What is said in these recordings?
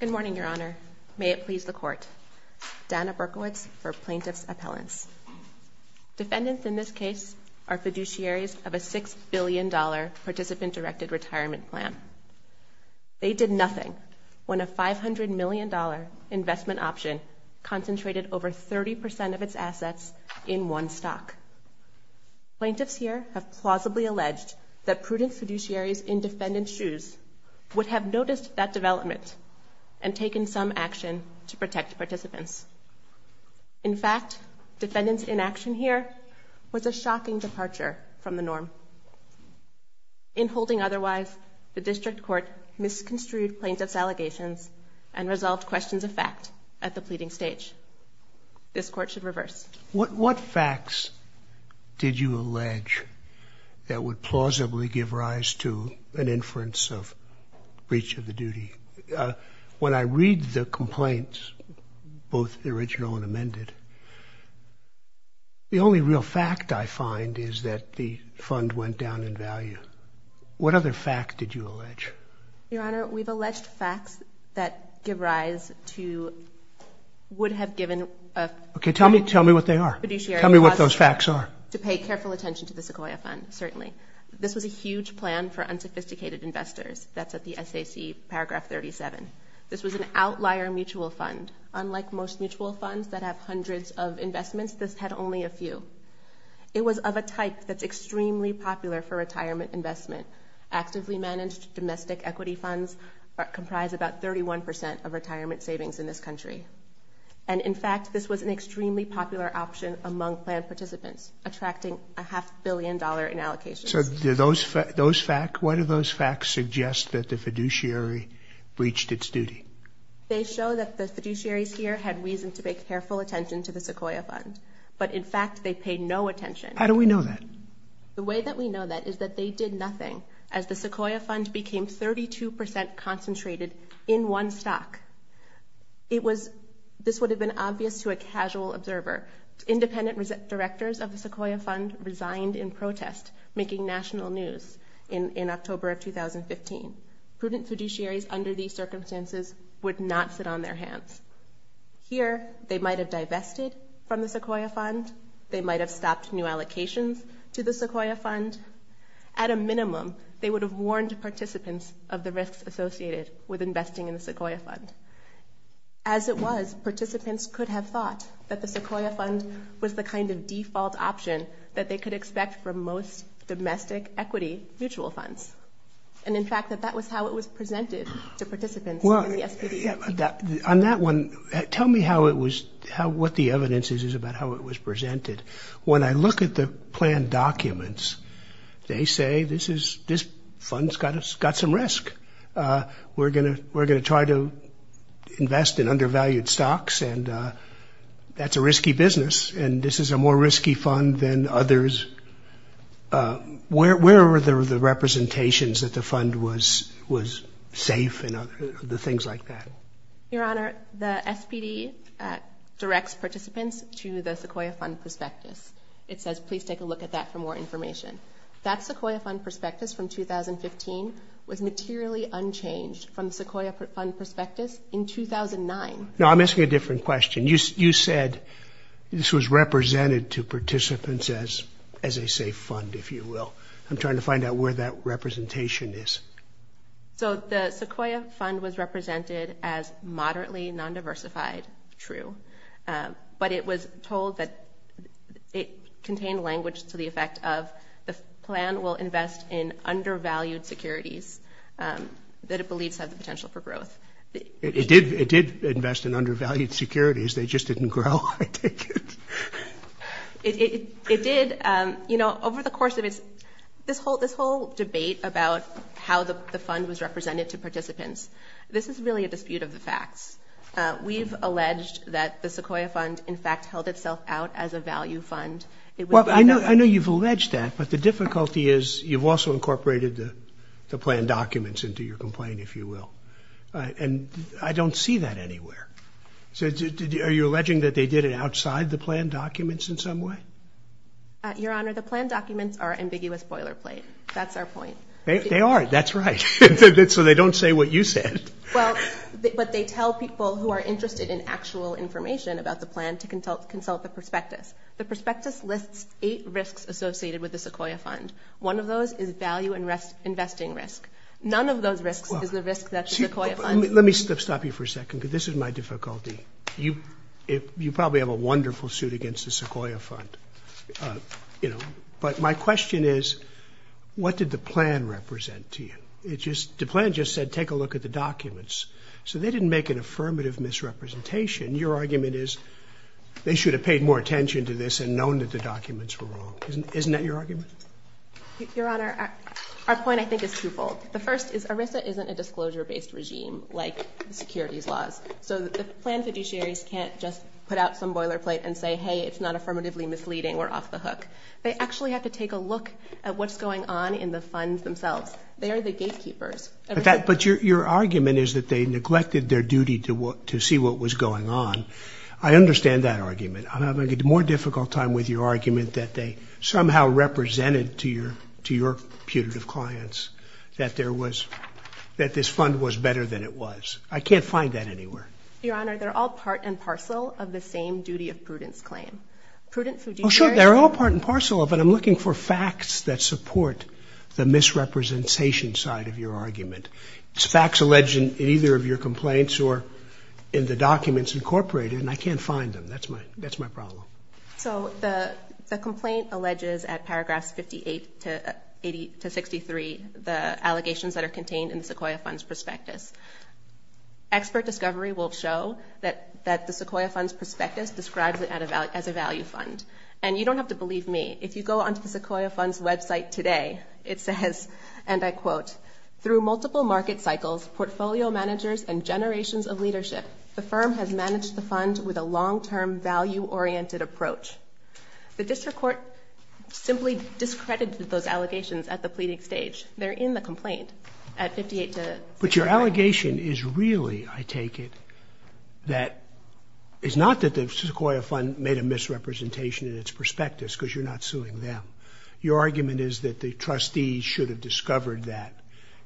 Good morning, Your Honor. May it please the Court. Dana Berkowitz for Plaintiff's Appellants. Defendants in this case are fiduciaries of a $6 billion participant-directed retirement plan. They did nothing when a $500 million investment option concentrated over 30% of its assets in one stock. Plaintiffs here have plausibly alleged that prudent fiduciaries in defendant's shoes would have noticed that development and taken some action to protect participants. In fact, defendants' inaction here was a shocking departure from the norm. In holding otherwise, the District Court misconstrued plaintiff's allegations and resolved questions of fact at the pleading stage. This Court should reverse. What facts did you allege that would plausibly give rise to an inference of breach of the duty? When I read the complaints, both original and amended, the only real fact I find is that the fund went down in value. What other fact did you allege? Your Honor, we've alleged facts that give rise to would have given a Okay, tell me what they are. Tell me what those facts are. to pay careful attention to the Sequoia Fund, certainly. This was a huge plan for unsophisticated investors. That's at the SAC paragraph 37. This was an outlier mutual fund. Unlike most mutual funds that have hundreds of investments, this had only a few. It was of a type that's extremely popular for retirement investment. Actively managed domestic equity funds comprise about 31% of retirement savings in this country. And, in fact, this was an extremely popular option among plan participants, attracting a half-billion dollar in allocations. So what do those facts suggest that the fiduciary breached its duty? They show that the fiduciaries here had reason to pay careful attention to the Sequoia Fund. But, in fact, they paid no attention. How do we know that? The way that we know that is that they did nothing. As the Sequoia Fund became 32% concentrated in one stock, this would have been obvious to a casual observer. Independent directors of the Sequoia Fund resigned in protest, making national news in October of 2015. Prudent fiduciaries under these circumstances would not sit on their hands. Here, they might have divested from the Sequoia Fund. They might have stopped new allocations to the Sequoia Fund. At a minimum, they would have warned participants of the risks associated with investing in the Sequoia Fund. As it was, participants could have thought that the Sequoia Fund was the kind of default option that they could expect from most domestic equity mutual funds. And, in fact, that that was how it was presented to participants in the SBDC. On that one, tell me what the evidence is about how it was presented. When I look at the plan documents, they say this fund's got some risk. We're going to try to invest in undervalued stocks, and that's a risky business, and this is a more risky fund than others. Where were the representations that the fund was safe and the things like that? Your Honor, the SPD directs participants to the Sequoia Fund Prospectus. It says, please take a look at that for more information. That Sequoia Fund Prospectus from 2015 was materially unchanged from the Sequoia Fund Prospectus in 2009. No, I'm asking a different question. You said this was represented to participants as a safe fund, if you will. I'm trying to find out where that representation is. So the Sequoia Fund was represented as moderately non-diversified, true, but it was told that it contained language to the effect of the plan will invest in undervalued securities that it believes have the potential for growth. It did invest in undervalued securities. They just didn't grow, I take it. It did. You know, over the course of this whole debate about how the fund was represented to participants, this is really a dispute of the facts. We've alleged that the Sequoia Fund, in fact, held itself out as a value fund. Well, I know you've alleged that, but the difficulty is you've also incorporated the plan documents into your complaint, if you will, and I don't see that anywhere. So are you alleging that they did it outside the plan documents in some way? Your Honor, the plan documents are ambiguous boilerplate. That's our point. They are. That's right. So they don't say what you said. Well, but they tell people who are interested in actual information about the plan to consult the prospectus. The prospectus lists eight risks associated with the Sequoia Fund. One of those is value investing risk. None of those risks is the risk that the Sequoia Fund— Let me stop you for a second because this is my difficulty. You probably have a wonderful suit against the Sequoia Fund. But my question is what did the plan represent to you? The plan just said take a look at the documents. So they didn't make an affirmative misrepresentation. Your argument is they should have paid more attention to this and known that the documents were wrong. Isn't that your argument? Your Honor, our point, I think, is twofold. The first is ERISA isn't a disclosure-based regime like the securities laws. So the plan fiduciaries can't just put out some boilerplate and say, hey, it's not affirmatively misleading. We're off the hook. They actually have to take a look at what's going on in the funds themselves. They are the gatekeepers. But your argument is that they neglected their duty to see what was going on. I understand that argument. I'm having a more difficult time with your argument that they somehow represented to your putative clients that this fund was better than it was. I can't find that anywhere. Your Honor, they're all part and parcel of the same duty of prudence claim. Oh, sure, they're all part and parcel of it. I'm looking for facts that support the misrepresentation side of your argument. It's facts alleged in either of your complaints or in the documents incorporated, and I can't find them. That's my problem. So the complaint alleges at paragraphs 58 to 63 the allegations that are contained in the Sequoia Funds Prospectus. Expert discovery will show that the Sequoia Funds Prospectus describes it as a value fund. And you don't have to believe me. If you go onto the Sequoia Funds website today, it says, and I quote, through multiple market cycles, portfolio managers, and generations of leadership, the firm has managed the fund with a long-term value-oriented approach. The district court simply discredited those allegations at the pleading stage. They're in the complaint at 58 to 63. But your allegation is really, I take it, that it's not that the Sequoia Fund made a misrepresentation in its prospectus because you're not suing them. Your argument is that the trustees should have discovered that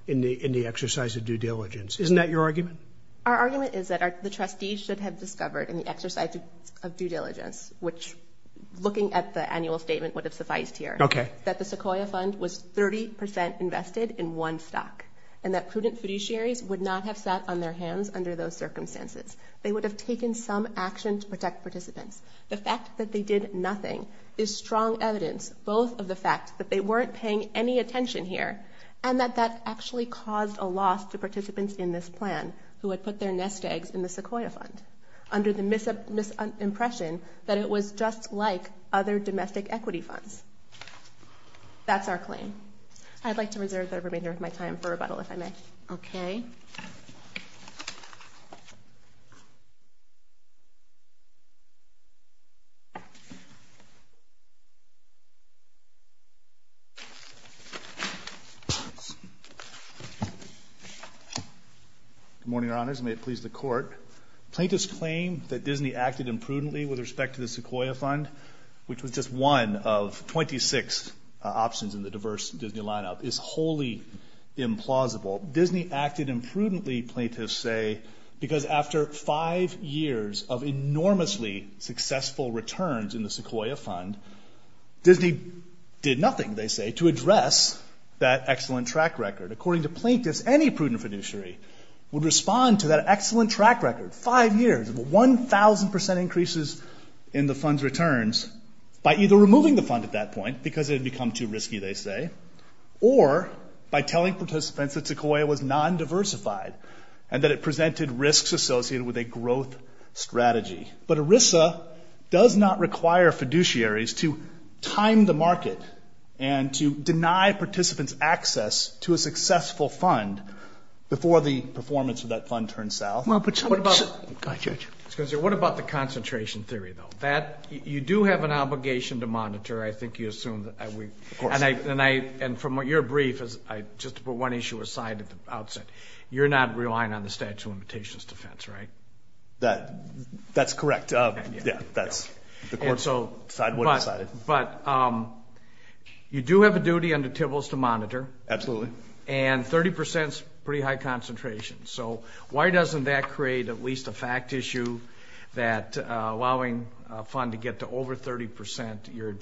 in the exercise of due diligence. Isn't that your argument? Our argument is that the trustees should have discovered in the exercise of due diligence, which looking at the annual statement would have sufficed here, that the Sequoia Fund was 30 percent invested in one stock and that prudent fiduciaries would not have sat on their hands under those circumstances. They would have taken some action to protect participants. The fact that they did nothing is strong evidence both of the fact that they weren't paying any attention here and that that actually caused a loss to participants in this plan who had put their nest eggs in the Sequoia Fund under the misimpression that it was just like other domestic equity funds. That's our claim. I'd like to reserve the remainder of my time for rebuttal, if I may. Okay. Good morning, Your Honors, and may it please the Court. Plaintiffs claim that Disney acted imprudently with respect to the Sequoia Fund, which was just one of 26 options in the diverse Disney lineup, is wholly implausible. Disney acted imprudently, plaintiffs say, because after five years of enormously successful returns in the Sequoia Fund, Disney did nothing, they say, to address that excellent track record. According to plaintiffs, any prudent fiduciary would respond to that excellent track record, five years of 1,000 percent increases in the fund's returns, by either removing the fund at that point because it had become too risky, they say, or by telling participants that Sequoia was non-diversified and that it presented risks associated with a growth strategy. But ERISA does not require fiduciaries to time the market and to deny participants access to a successful fund before the performance of that fund turns south. What about the concentration theory, though? You do have an obligation to monitor, I think you assume, and from your brief, just to put one issue aside at the outset, you're not relying on the statute of limitations defense, right? That's correct. That's the court's side of what's decided. But you do have a duty under TIBLS to monitor. Absolutely. And 30 percent is pretty high concentration, so why doesn't that create at least a fact issue that allowing a fund to get to over 30 percent, you're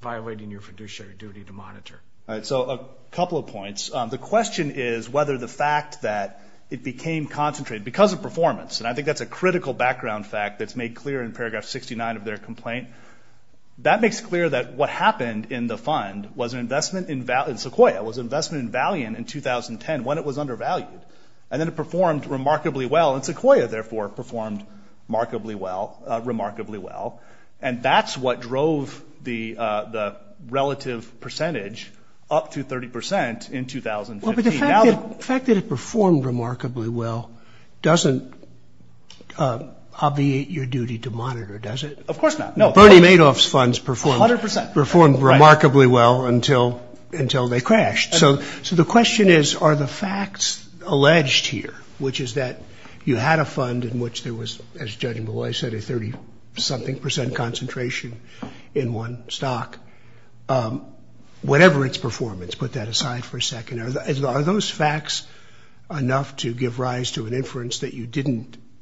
violating your fiduciary duty to monitor? All right, so a couple of points. The question is whether the fact that it became concentrated because of performance, and I think that's a critical background fact that's made clear in Paragraph 69 of their complaint, that makes clear that what happened in the fund was an investment in Sequoia, was an investment in Valiant in 2010 when it was undervalued. And then it performed remarkably well, and Sequoia, therefore, performed remarkably well. And that's what drove the relative percentage up to 30 percent in 2015. Well, but the fact that it performed remarkably well doesn't obviate your duty to monitor, does it? Of course not. Bernie Madoff's funds performed remarkably well until they crashed. So the question is, are the facts alleged here, which is that you had a fund in which there was, as Judge Malloy said, a 30-something percent concentration in one stock. Whatever its performance, put that aside for a second. Are those facts enough to give rise to an inference that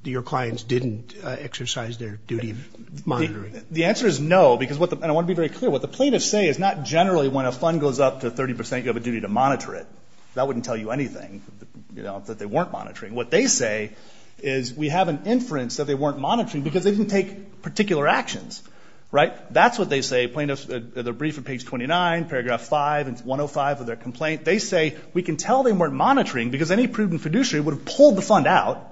your clients didn't exercise their duty of monitoring? The answer is no, and I want to be very clear. What the plaintiffs say is not generally when a fund goes up to 30 percent, you have a duty to monitor it. That wouldn't tell you anything, that they weren't monitoring. What they say is we have an inference that they weren't monitoring because they didn't take particular actions. Right? That's what they say. Plaintiffs, the brief at page 29, paragraph 5 and 105 of their complaint, they say we can tell they weren't monitoring because any prudent fiduciary would have pulled the fund out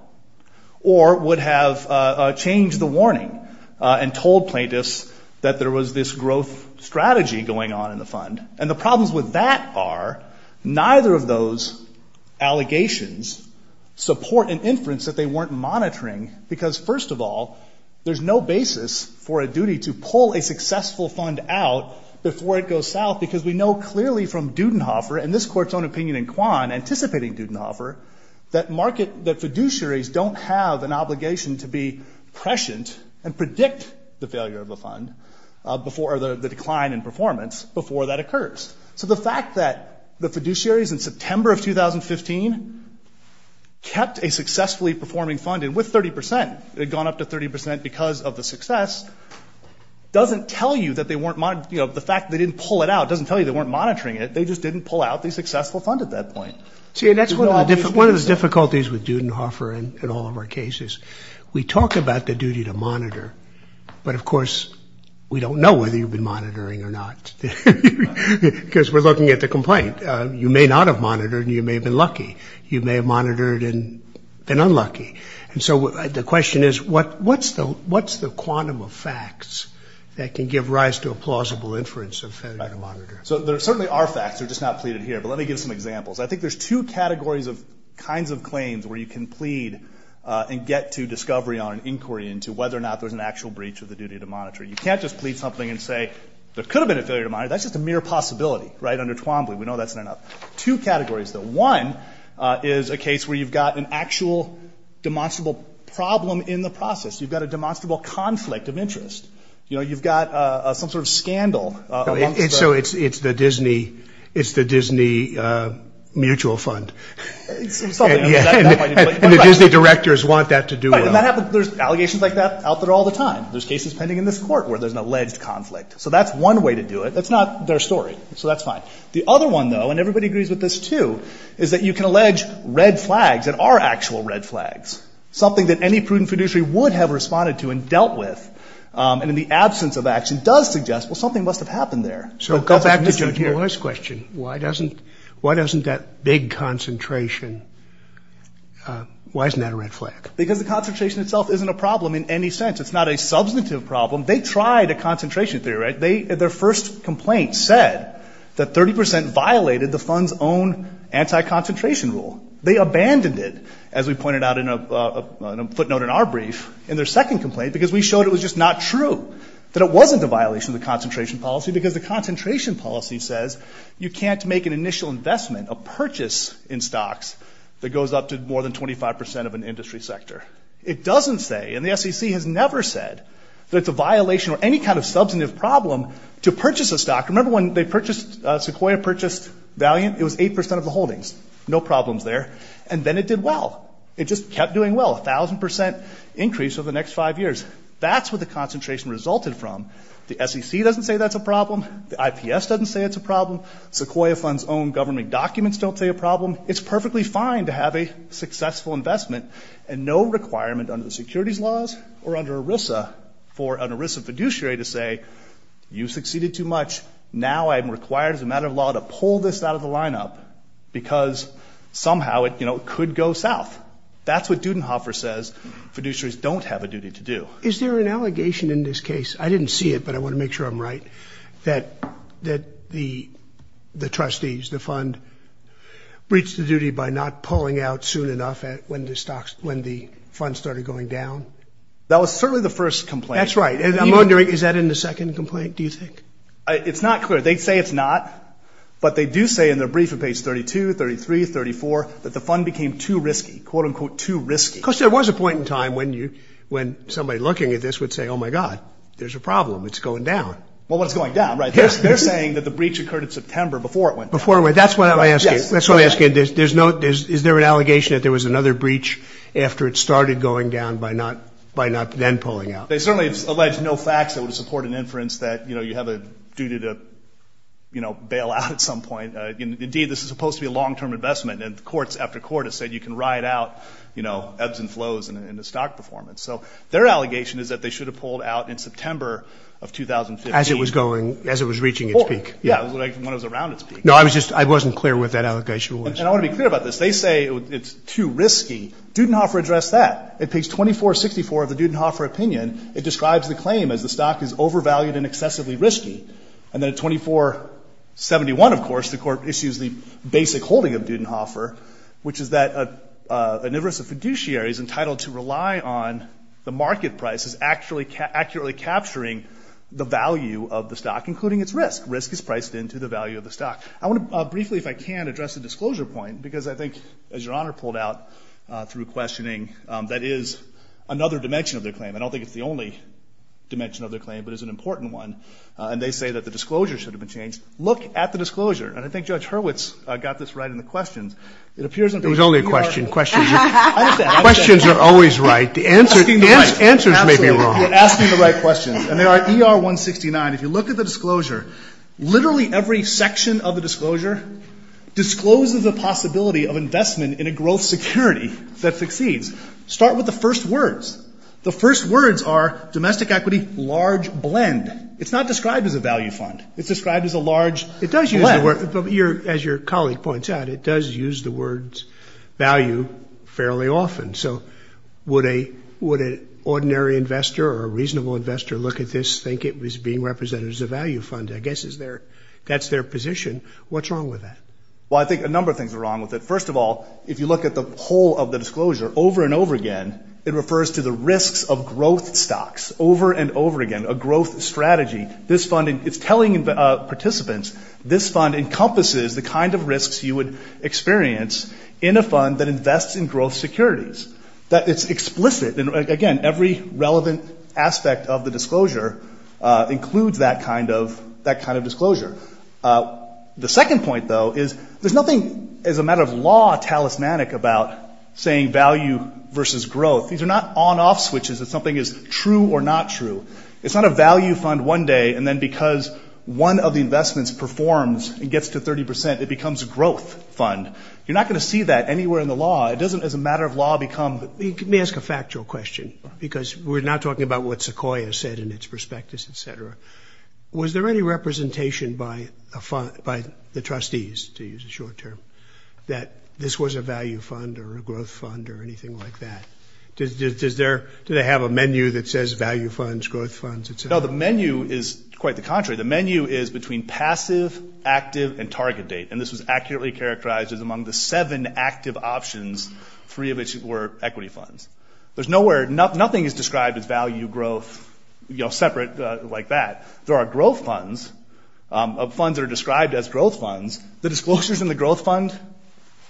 or would have changed the warning and told plaintiffs that there was this growth strategy going on in the fund. And the problems with that are neither of those allegations support an inference that they weren't monitoring because, first of all, there's no basis for a duty to pull a successful fund out before it goes south because we know clearly from Dudenhofer and this court's own opinion in Kwan, anticipating Dudenhofer, that market, that fiduciaries don't have an obligation to be prescient and predict the failure of a fund before the decline in performance before that occurs. So the fact that the fiduciaries in September of 2015 kept a successfully performing fund, and with 30%, it had gone up to 30% because of the success, doesn't tell you that they weren't monitoring. The fact that they didn't pull it out doesn't tell you they weren't monitoring it. They just didn't pull out the successful fund at that point. See, and that's one of the difficulties with Dudenhofer in all of our cases. We talk about the duty to monitor, but of course we don't know whether you've been monitoring or not. Because we're looking at the complaint. You may not have monitored and you may have been lucky. You may have monitored and been unlucky. And so the question is, what's the quantum of facts that can give rise to a plausible inference of failure to monitor? So there certainly are facts. They're just not pleaded here. But let me give some examples. I think there's two categories of kinds of claims where you can plead and get to discovery on an inquiry into whether or not there's an actual breach of the duty to monitor. You can't just plead something and say there could have been a failure to monitor. That's just a mere possibility, right, under Twombly. We know that's not enough. Two categories, though. One is a case where you've got an actual demonstrable problem in the process. You've got a demonstrable conflict of interest. You know, you've got some sort of scandal. So it's the Disney mutual fund. And the Disney directors want that to do with them. There's allegations like that out there all the time. There's cases pending in this court where there's an alleged conflict. So that's one way to do it. That's not their story. So that's fine. The other one, though, and everybody agrees with this, too, is that you can allege red flags that are actual red flags, something that any prudent fiduciary would have responded to and dealt with, and in the absence of action does suggest, well, something must have happened there. So go back to Joe's question. Why doesn't that big concentration, why isn't that a red flag? Because the concentration itself isn't a problem in any sense. It's not a substantive problem. They tried a concentration theory. Their first complaint said that 30 percent violated the fund's own anti-concentration rule. They abandoned it, as we pointed out in a footnote in our brief, in their second complaint, because we showed it was just not true, that it wasn't a violation of the concentration policy, because the concentration policy says you can't make an initial investment, a purchase in stocks that goes up to more than 25 percent of an industry sector. It doesn't say, and the SEC has never said that it's a violation or any kind of substantive problem to purchase a stock. Remember when they purchased, Sequoia purchased Valiant? It was 8 percent of the holdings. No problems there. And then it did well. It just kept doing well, 1,000 percent increase over the next five years. That's what the concentration resulted from. The SEC doesn't say that's a problem. The IPS doesn't say it's a problem. Sequoia Fund's own government documents don't say a problem. It's perfectly fine to have a successful investment and no requirement under the securities laws or under ERISA for an ERISA fiduciary to say, you succeeded too much, now I'm required as a matter of law to pull this out of the lineup because somehow it could go south. That's what Dudenhofer says fiduciaries don't have a duty to do. Is there an allegation in this case, I didn't see it but I want to make sure I'm right, that the trustees, the fund, breached the duty by not pulling out soon enough when the fund started going down? That was certainly the first complaint. That's right. And I'm wondering, is that in the second complaint, do you think? It's not clear. They say it's not, but they do say in their brief at page 32, 33, 34, that the fund became too risky, quote, unquote, too risky. Of course, there was a point in time when somebody looking at this would say, oh, my God, there's a problem, it's going down. Well, it's going down, right. They're saying that the breach occurred in September before it went down. Before it went down, that's what I'm asking. That's what I'm asking. Is there an allegation that there was another breach after it started going down by not then pulling out? They certainly allege no facts that would support an inference that you have a duty to bail out at some point. Indeed, this is supposed to be a long-term investment, and courts after court have said you can ride out ebbs and flows in the stock performance. So their allegation is that they should have pulled out in September of 2015. As it was going, as it was reaching its peak. Yeah, when it was around its peak. No, I was just, I wasn't clear what that allegation was. And I want to be clear about this. They say it's too risky. Dudenhofer addressed that. At page 2464 of the Dudenhofer opinion, it describes the claim as the stock is overvalued and excessively risky. And then at 2471, of course, the court issues the basic holding of Dudenhofer, which is that an inverse of fiduciary is entitled to rely on the market prices accurately capturing the value of the stock, including its risk. Risk is priced into the value of the stock. I want to briefly, if I can, address the disclosure point, because I think, as Your Honor pulled out through questioning, that is another dimension of their claim. I don't think it's the only dimension of their claim, but it's an important one. Look at the disclosure. And I think Judge Hurwitz got this right in the questions. It appears in the ER169. It was only a question. Questions are always right. The answers may be wrong. Absolutely. You're asking the right questions. And they are ER169. If you look at the disclosure, literally every section of the disclosure discloses the possibility of investment in a growth security that succeeds. Start with the first words. The first words are domestic equity, large blend. It's not described as a value fund. It's described as a large blend. As your colleague points out, it does use the words value fairly often. So would an ordinary investor or a reasonable investor look at this, think it was being represented as a value fund? I guess that's their position. What's wrong with that? Well, I think a number of things are wrong with it. First of all, if you look at the whole of the disclosure over and over again, it refers to the risks of growth stocks over and over again, a growth strategy. It's telling participants this fund encompasses the kind of risks you would experience in a fund that invests in growth securities. It's explicit. And, again, every relevant aspect of the disclosure includes that kind of disclosure. The second point, though, is there's nothing, as a matter of law, talismanic about saying value versus growth. These are not on-off switches if something is true or not true. It's not a value fund one day, and then because one of the investments performs and gets to 30 percent, it becomes a growth fund. You're not going to see that anywhere in the law. It doesn't, as a matter of law, become. Let me ask a factual question because we're not talking about what Sequoia said in its prospectus, et cetera. Was there any representation by the trustees, to use a short term, that this was a value fund or a growth fund or anything like that? Do they have a menu that says value funds, growth funds, et cetera? No, the menu is quite the contrary. The menu is between passive, active, and target date, and this was accurately characterized as among the seven active options, three of which were equity funds. Nothing is described as value, growth, separate like that. There are growth funds, funds that are described as growth funds. The disclosures in the growth fund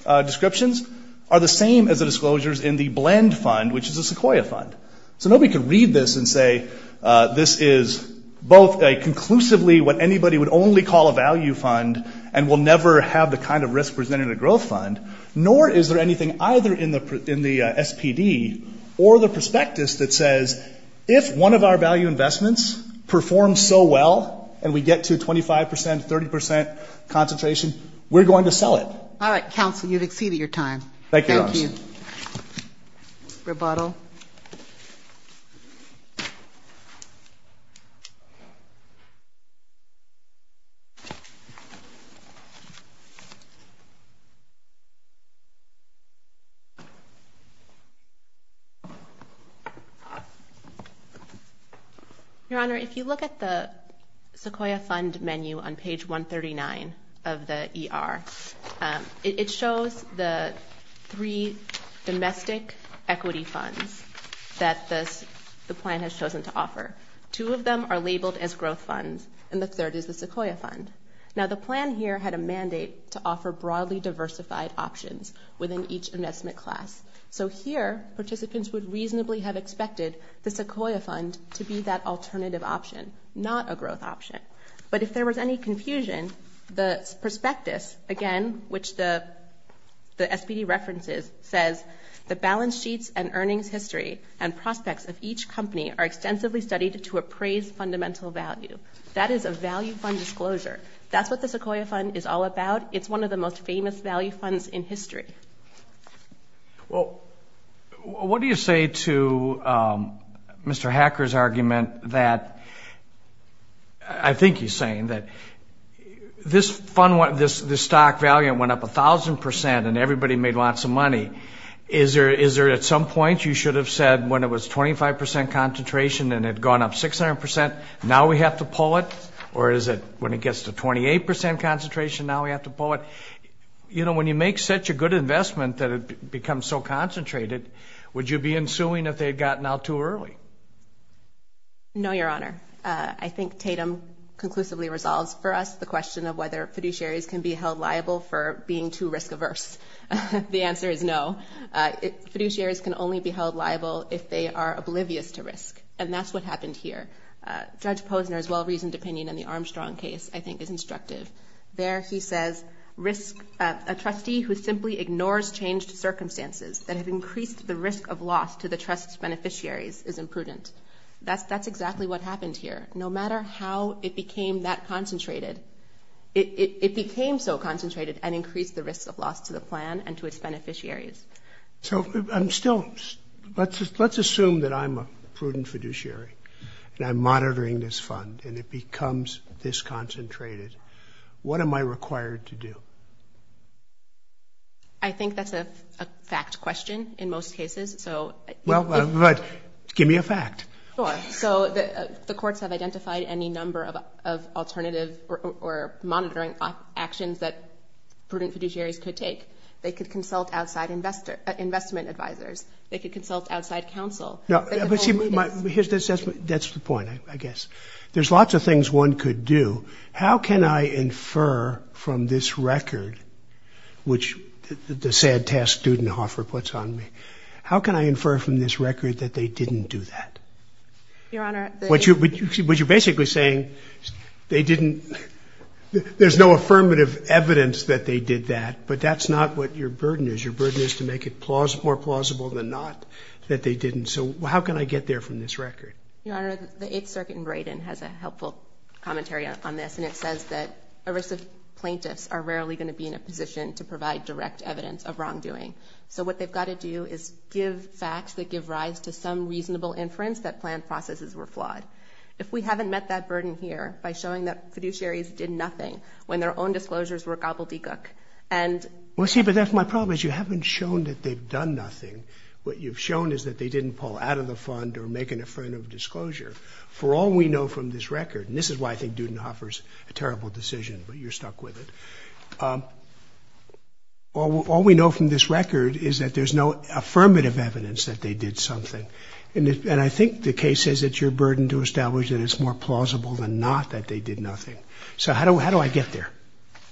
descriptions are the same as the disclosures in the blend fund, which is a Sequoia fund. So nobody could read this and say this is both conclusively what anybody would only call a value fund and will never have the kind of risk presented in a growth fund, nor is there anything either in the SPD or the prospectus that says, if one of our value investments performs so well and we get to 25 percent, 30 percent concentration, we're going to sell it. All right, counsel, you've exceeded your time. Thank you. Thank you. Rebuttal. Your Honor, if you look at the Sequoia fund menu on page 139 of the ER, it shows the three domestic equity funds that the plan has chosen to offer. Two of them are labeled as growth funds, and the third is the Sequoia fund. Now, the plan here had a mandate to offer broadly diversified options within each investment class. So here, participants would reasonably have expected the Sequoia fund to be that alternative option, not a growth option. But if there was any confusion, the prospectus, again, which the SPD references, says the balance sheets and earnings history and prospects of each company are extensively studied to appraise fundamental value. That is a value fund disclosure. That's what the Sequoia fund is all about. Well, what do you say to Mr. Hacker's argument that, I think he's saying, that this stock value went up 1,000 percent and everybody made lots of money. Is there at some point you should have said when it was 25 percent concentration and it had gone up 600 percent, now we have to pull it? Or is it when it gets to 28 percent concentration, now we have to pull it? When you make such a good investment that it becomes so concentrated, would you be in suing if they had gotten out too early? No, Your Honor. I think Tatum conclusively resolves for us the question of whether fiduciaries can be held liable for being too risk-averse. The answer is no. Fiduciaries can only be held liable if they are oblivious to risk, and that's what happened here. Judge Posner's well-reasoned opinion in the Armstrong case, I think, is instructive. There he says a trustee who simply ignores changed circumstances that have increased the risk of loss to the trust's beneficiaries is imprudent. That's exactly what happened here. No matter how it became that concentrated, it became so concentrated and increased the risk of loss to the plan and to its beneficiaries. So let's assume that I'm a prudent fiduciary and I'm monitoring this fund and it becomes this concentrated. What am I required to do? I think that's a fact question in most cases. Well, give me a fact. So the courts have identified any number of alternative or monitoring actions that prudent fiduciaries could take. They could consult outside investment advisers. They could consult outside counsel. That's the point, I guess. There's lots of things one could do. How can I infer from this record, which the sad task Dudenhofer puts on me, how can I infer from this record that they didn't do that? But you're basically saying there's no affirmative evidence that they did that, but that's not what your burden is. Your burden is to make it more plausible than not that they didn't. So how can I get there from this record? Your Honor, the Eighth Circuit in Braden has a helpful commentary on this, and it says that arrest of plaintiffs are rarely going to be in a position to provide direct evidence of wrongdoing. So what they've got to do is give facts that give rise to some reasonable inference that planned processes were flawed. If we haven't met that burden here by showing that fiduciaries did nothing when their own disclosures were gobbledygook and— Well, see, but that's my problem is you haven't shown that they've done nothing. What you've shown is that they didn't pull out of the fund or make an affirmative disclosure. For all we know from this record, and this is why I think Dudenhofer's a terrible decision, but you're stuck with it, all we know from this record is that there's no affirmative evidence that they did something. And I think the case says it's your burden to establish that it's more plausible than not that they did nothing. So how do I get there?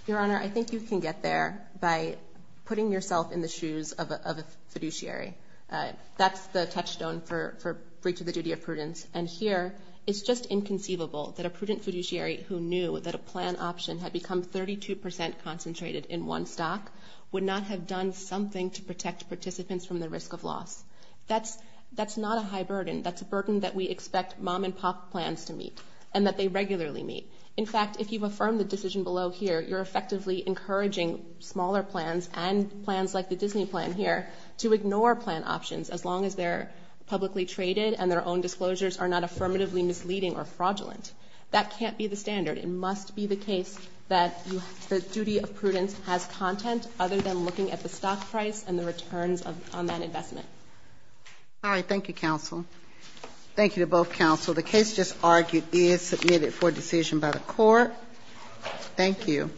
Your Honor, I think you can get there by putting yourself in the shoes of a fiduciary. That's the touchstone for breach of the duty of prudence. And here it's just inconceivable that a prudent fiduciary who knew that a plan option had become 32 percent concentrated in one stock would not have done something to protect participants from the risk of loss. That's not a high burden. That's a burden that we expect mom-and-pop plans to meet and that they regularly meet. In fact, if you've affirmed the decision below here, you're effectively encouraging smaller plans and plans like the Disney plan here to ignore plan options as long as they're publicly traded and their own disclosures are not affirmatively misleading or fraudulent. That can't be the standard. It must be the case that the duty of prudence has content other than looking at the stock price and the returns on that investment. All right, thank you, counsel. Thank you to both counsel. The case just argued is submitted for decision by the court. Thank you.